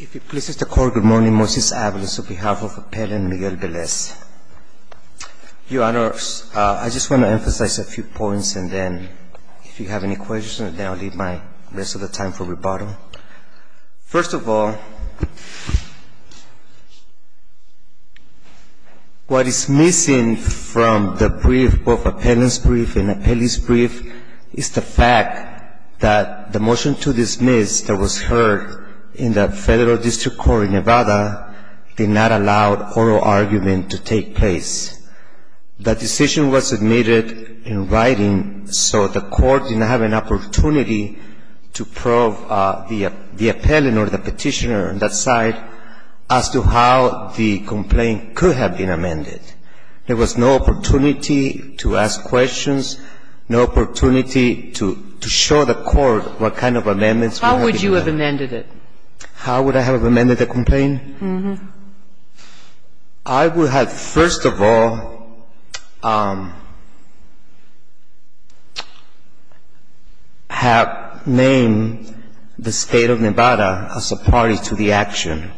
If it pleases the Court, good morning. Moses Avalos on behalf of Appellant Miguel Velez. Your Honor, I just want to emphasize a few points, and then if you have any questions, then I'll leave the rest of the time for rebuttal. First of all, what is missing from the brief, both appellant's brief and appellee's brief, is the fact that the motion to dismiss that was heard in the Federal District Court in Nevada did not allow oral argument to take place. That decision was submitted in writing, so the Court did not have an opportunity to probe the appellant or the Petitioner on that side as to how the complaint could have been amended. There was no opportunity to ask questions, no opportunity to show the Court what kind of amendments would have been made. How would you have amended it? How would I have amended the complaint? Uh-huh. I would have, first of all, have named the State of Nevada as a party to the action,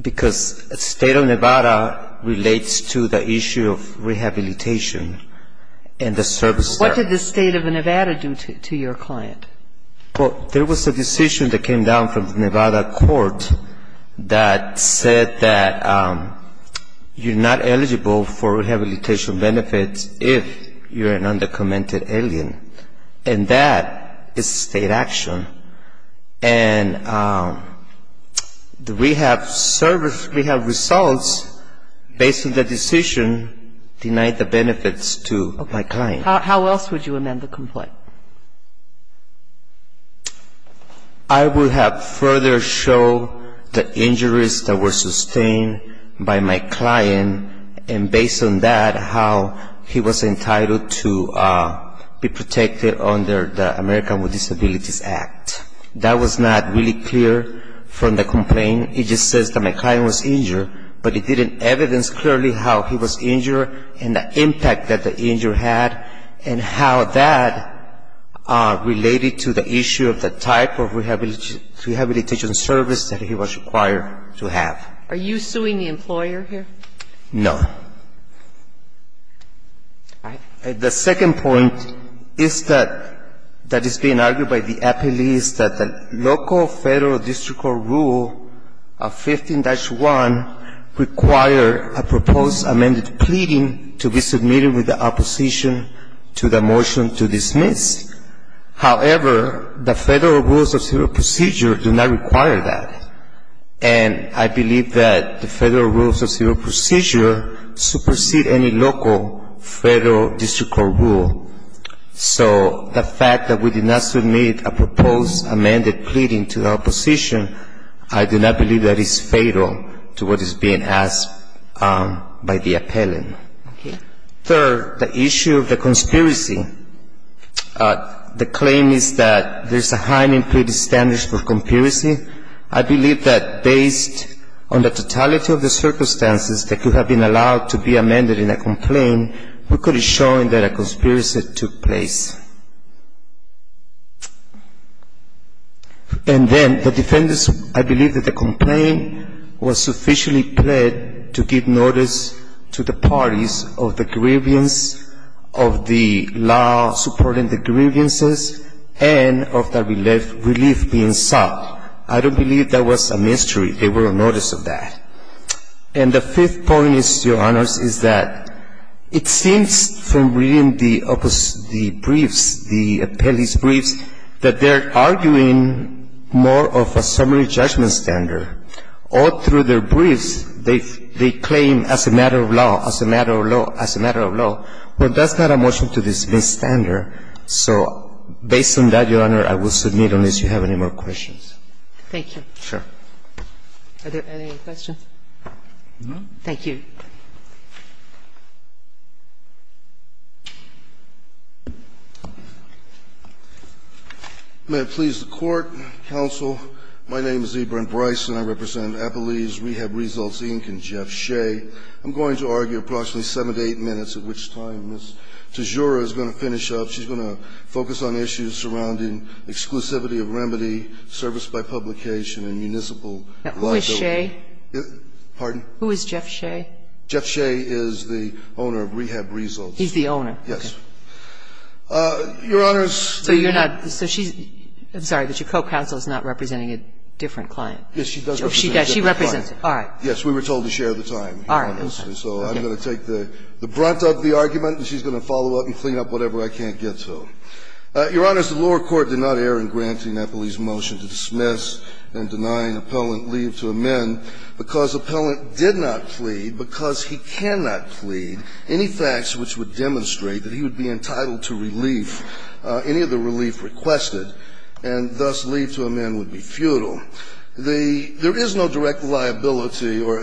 because State of Nevada relates to the issue of rehabilitation and the service there. What did the State of Nevada do to your client? Well, there was a decision that came down from the Nevada court that said that you're not eligible for rehabilitation benefits if you're an undocumented alien. And that is State action. And the rehab service, rehab results, based on the decision, denied the benefits to my client. How else would you amend the complaint? I would have further shown the injuries that were sustained by my client, and based on that, how he was entitled to be protected under the American with Disabilities Act. That was not really clear from the complaint. It just says that my client was injured, but it didn't evidence clearly how he was injured and the impact that the injury had, and how that related to the issue of the type of rehabilitation service that he was required to have. Are you suing the employer here? No. All right. The second point is that that is being argued by the appellees that the local federal district court rule of 15-1 require a proposed amended pleading to be submitted with the opposition to the motion to dismiss. However, the federal rules of civil procedure do not require that. And I believe that the federal rules of civil procedure supersede any local federal district court rule. So the fact that we did not submit a proposed amended pleading to the opposition, I do not believe that is fatal to what is being asked by the appellant. Third, the issue of the conspiracy. The claim is that there's a high need for the standards for conspiracy. I believe that based on the totality of the circumstances that could have been allowed to be amended in a complaint, we could have shown that a conspiracy took place. And then the defendants, I believe that the complaint was sufficiently pled to give notice to the parties of the grievance of the law supporting the grievances and of the relief being sought. I don't believe that was a mystery. They were on notice of that. And the fifth point is, Your Honors, is that it seems from reading the briefs, the appellee's briefs, that they're arguing more of a summary judgment standard. Or through their briefs, they claim as a matter of law, as a matter of law, as a matter of law, but that's not a motion to dismiss standard. So based on that, Your Honor, I will submit unless you have any more questions. Thank you. Sure. Are there any questions? No. Thank you. May it please the Court, counsel. My name is Ibram Bryson. I represent Appellee's Rehab Results, Inc. and Jeff Shea. I'm going to argue approximately 7 to 8 minutes, at which time Ms. Tejura is going to finish up. She's going to focus on issues surrounding exclusivity of remedy, service by publication and municipal liability. Who is Shea? Pardon? Who is Jeff Shea? Jeff Shea is the owner of Rehab Results. He's the owner. Yes. Your Honor, Ms. Tejura. So you're not – so she's – I'm sorry, but your co-counsel is not representing a different client. Yes, she does represent a different client. She represents – all right. Yes. We were told to share the time. All right. Okay. So I'm going to take the brunt of the argument, and she's going to follow up and clean up whatever I can't get to. Your Honor, the lower court did not err in granting Appellee's motion to dismiss and denying Appellant leave to amend because Appellant did not plead because he cannot plead any facts which would demonstrate that he would be entitled to relief, any of the relief requested, and thus leave to amend would be futile. The – there is no direct liability or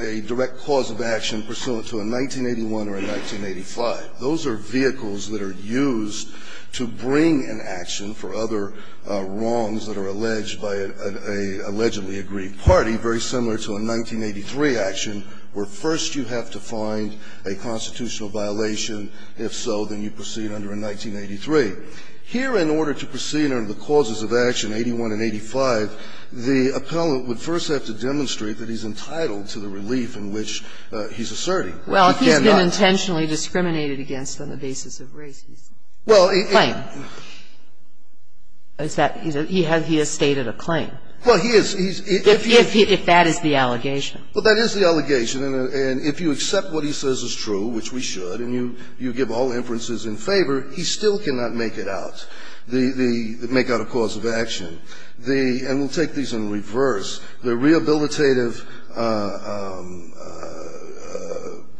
a direct cause of action pursuant to a 1981 or a 1985. Those are vehicles that are used to bring an action for other wrongs that are alleged by an allegedly aggrieved party, very similar to a 1983 action, where first you have to find a constitutional violation. If so, then you proceed under a 1983. Here, in order to proceed under the causes of action, 81 and 85, the Appellant would first have to demonstrate that he's entitled to the relief in which he's asserting. Well, he's been intentionally discriminated against on the basis of race. Well, it's that he has – he has stated otherwise. But he has not made a claim. Well, he is – he's – if he's – If that is the allegation. Well, that is the allegation. And if you accept what he says is true, which we should, and you give all inferences in favor, he still cannot make it out, make out a cause of action. The – and we'll take these in reverse. The rehabilitative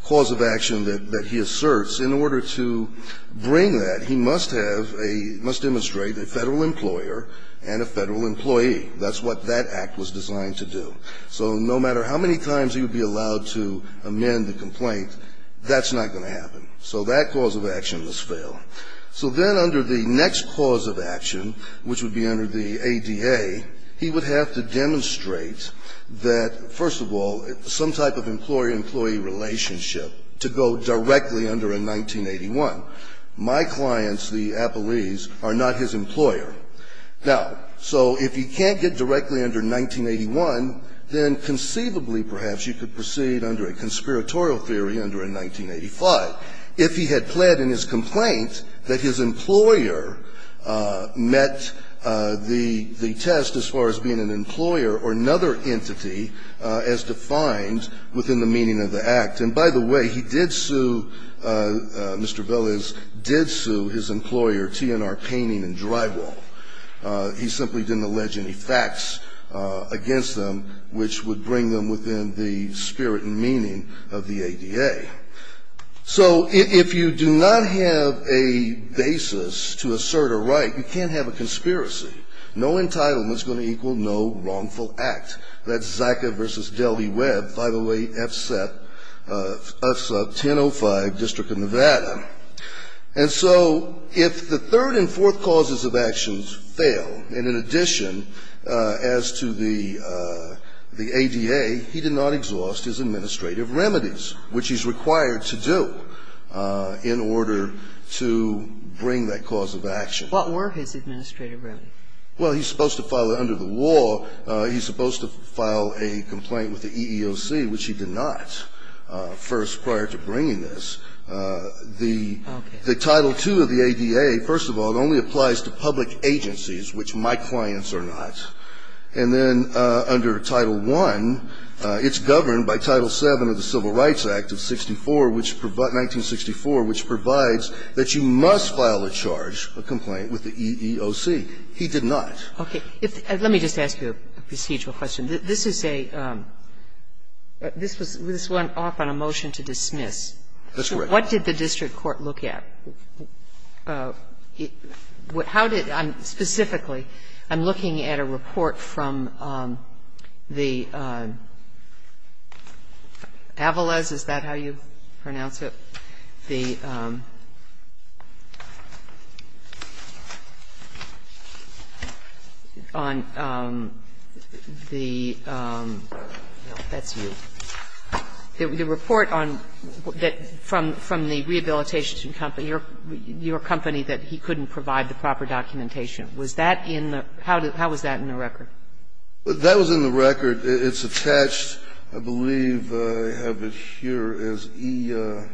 cause of action that he asserts, in order to bring that, he must have a – must demonstrate a Federal employer and a Federal employee. That's what that act was designed to do. So no matter how many times he would be allowed to amend the complaint, that's not going to happen. So that cause of action must fail. So then under the next cause of action, which would be under the ADA, he would have to demonstrate that, first of all, some type of employer-employee relationship to go directly under a 1981. My clients, the appellees, are not his employer. Now, so if he can't get directly under 1981, then conceivably, perhaps, you could proceed under a conspiratorial theory under a 1985. If he had pled in his complaint that his employer met the – the test as far as being an employer or another entity as defined within the meaning of the act. And by the way, he did sue – Mr. Velez did sue his employer, TNR Painting and Drywall. He simply didn't allege any facts against them, which would bring them within the spirit and meaning of the ADA. So if you do not have a basis to assert a right, you can't have a conspiracy. No entitlement is going to equal no wrongful act. That's Zaca v. Delvey-Webb, 508F-1005, District of Nevada. And so if the third and fourth causes of actions fail, and in addition as to the ADA, he did not exhaust his administrative remedies, which he's required to do in order to bring that cause of action. What were his administrative remedies? Well, he's supposed to file it under the law. He's supposed to file a complaint with the EEOC, which he did not, first prior to bringing this. The Title II of the ADA, first of all, only applies to public agencies, which my clients are not. And then under Title I, it's governed by Title VII of the Civil Rights Act of 1964, which provides that you must file a charge, a complaint, with the EEOC. He did not. Okay. Let me just ask you a procedural question. This is a – this went off on a motion to dismiss. That's correct. What did the district court look at? How did – specifically, I'm looking at a report from the Avales, is that how you pronounce it? The – on the – no, that's you. The report on – that from the rehabilitation company, your company, that he couldn't provide the proper documentation. Was that in the – how was that in the record? That was in the record. It's attached, I believe, I have it here as EEOC.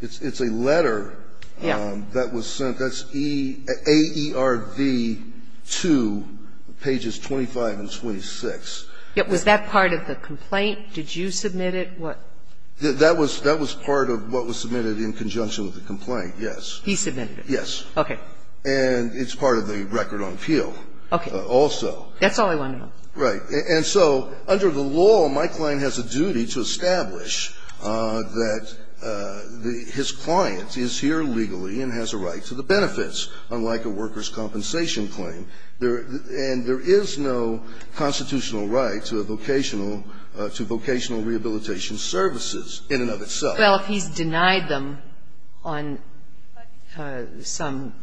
It's a letter that was sent. That's AERV 2, pages 25 and 26. Was that part of the complaint? Did you submit it? That was part of what was submitted in conjunction with the complaint, yes. He submitted it. Yes. Okay. And it's part of the record on appeal also. That's all I wanted to know. Right. And so under the law, my client has a duty to establish that his client is here legally and has a right to the benefits, unlike a workers' compensation claim, and there is no constitutional right to vocational rehabilitation services in and of itself. Well, if he's denied them on some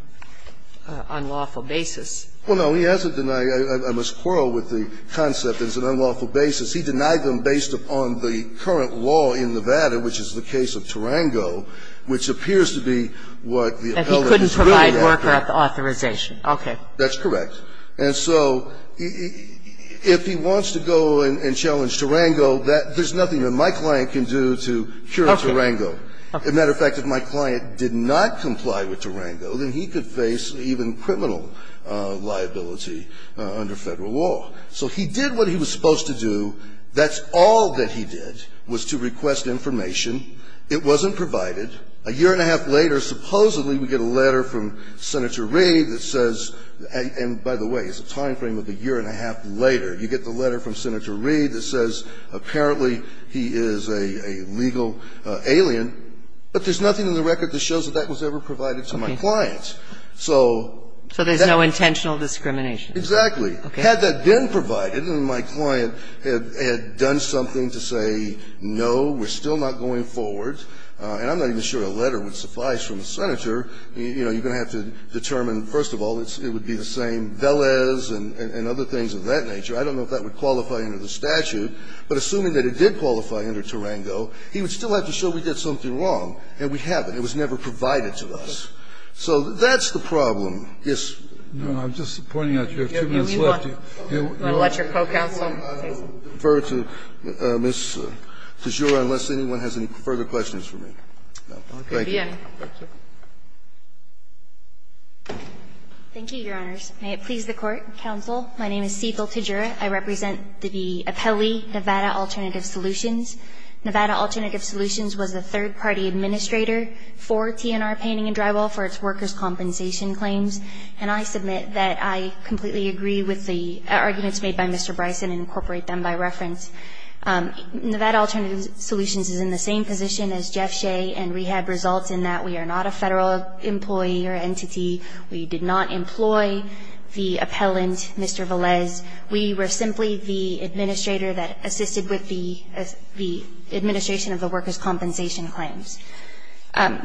unlawful basis. Well, no, he hasn't denied them. I must quarrel with the concept it's an unlawful basis. He denied them based upon the current law in Nevada, which is the case of Tarango, which appears to be what the appellate is really after. He couldn't provide worker authorization. Okay. That's correct. And so if he wants to go and challenge Tarango, there's nothing that my client can do to cure Tarango. Okay. As a matter of fact, if my client did not comply with Tarango, then he could face even criminal liability under Federal law. So he did what he was supposed to do. That's all that he did was to request information. It wasn't provided. A year and a half later, supposedly we get a letter from Senator Reid that says and, by the way, it's a time frame of a year and a half later. You get the letter from Senator Reid that says apparently he is a legal alien, but there's nothing in the record that shows that that was ever provided to my client. So that's... So there's no intentional discrimination. Exactly. Okay. Had that been provided and my client had done something to say, no, we're still not going forward, and I'm not even sure a letter would suffice from the Senator, you know, you're going to have to determine, first of all, it would be the same Velez and other things of that nature. I don't know if that would qualify under the statute, but assuming that it did qualify under Tarango, he would still have to show we did something wrong, and we haven't. It was never provided to us. So that's the problem. Yes. I'm just pointing out you have two minutes left. You want to let your co-counsel take some? I'll defer to Ms. Tejura unless anyone has any further questions for me. Thank you. Thank you, Your Honors. May it please the Court, counsel. My name is Cecil Tejura. I represent the appellee, Nevada Alternative Solutions. Nevada Alternative Solutions was a third party administrator for TNR Painting and Drywall for its workers' compensation claims. And I submit that I completely agree with the arguments made by Mr. Bryson and incorporate them by reference. Nevada Alternative Solutions is in the same position as Jeff Shea, and we had results in that we are not a Federal employee or entity. We did not employ the appellant, Mr. Velez. We were simply the administrator that assisted with the administration of the workers' compensation claims. I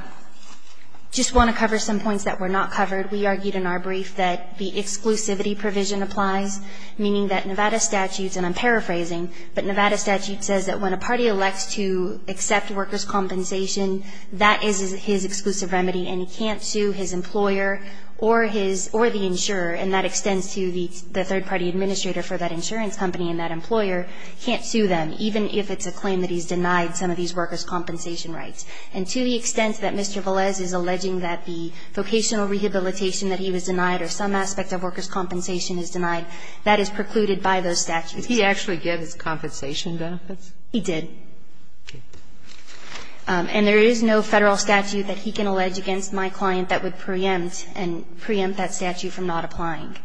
just want to cover some points that were not covered. We argued in our brief that the exclusivity provision applies, meaning that Nevada statutes, and I'm paraphrasing, but Nevada statute says that when a party elects to accept workers' compensation, that is his exclusive remedy and he can't sue his employer or the insurer, and that extends to the third party administrator for that insurance company and that employer, can't sue them, even if it's a claim that he's denied some of these workers' compensation rights. And to the extent that Mr. Velez is alleging that the vocational rehabilitation that he was denied or some aspect of workers' compensation is denied, that is precluded by those statutes. Sotomayor Did he actually get his compensation benefits? He did. And there is no Federal statute that he can allege against my client that would preempt and preempt that statute from not applying.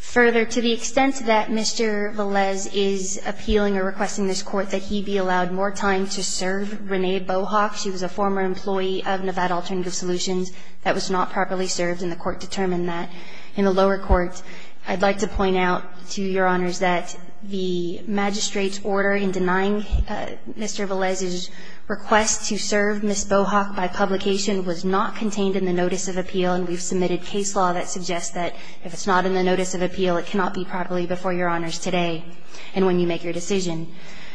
Further, to the extent that Mr. Velez is appealing or requesting this Court that he be allowed more time to serve Renee Bohawk, she was a former employee of Nevada Alternative Solutions, that was not properly served and the Court determined that. In the lower court, I'd like to point out to Your Honors that the magistrate's order in denying Mr. Velez's request to serve Ms. Bohawk by publication was not contained in the notice of appeal, and we've submitted case law that suggests that if it's not in the notice of appeal, it cannot be properly before Your Honors today and when you make your decision.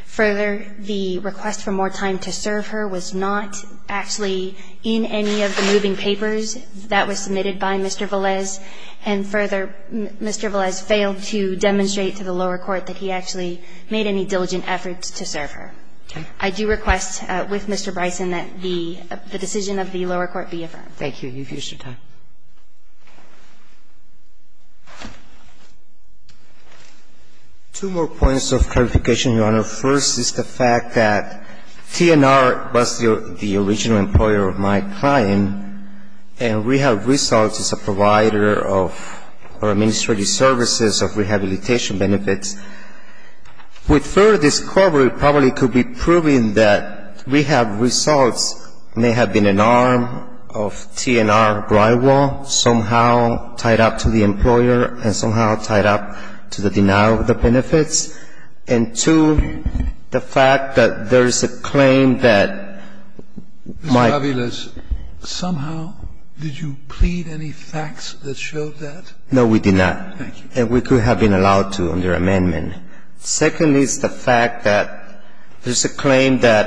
Further, the request for more time to serve her was not actually in any of the moving papers that was submitted by Mr. Velez, and further, Mr. Velez failed to demonstrate to the lower court that he actually made any diligent efforts to serve her. I do request with Mr. Bryson that the decision of the lower court be affirmed. Thank you. You've used your time. Two more points of clarification, Your Honor. First is the fact that TNR was the original employer of my client, and Rehab Results is a provider of administrative services of rehabilitation benefits. With further discovery, it probably could be proven that Rehab Results may have been an arm of TNR drywall, somehow tied up to the employer and somehow tied up to the denial of the benefits. And two, the fact that there is a claim that my ---- Mr. Velez, somehow, did you plead any facts that showed that? No, we did not. Thank you. And we could have been allowed to under amendment. Second is the fact that there's a claim that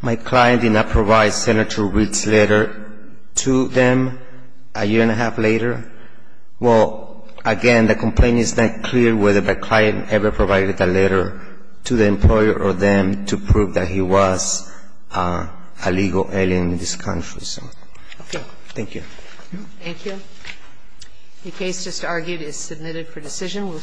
my client did not provide Senator Reed's letter to them a year and a half later. Well, again, the complaint is not clear whether the client ever provided the letter to the employer or them to prove that he was a legal alien in this country. Thank you. Thank you. The case just argued is submitted for decision.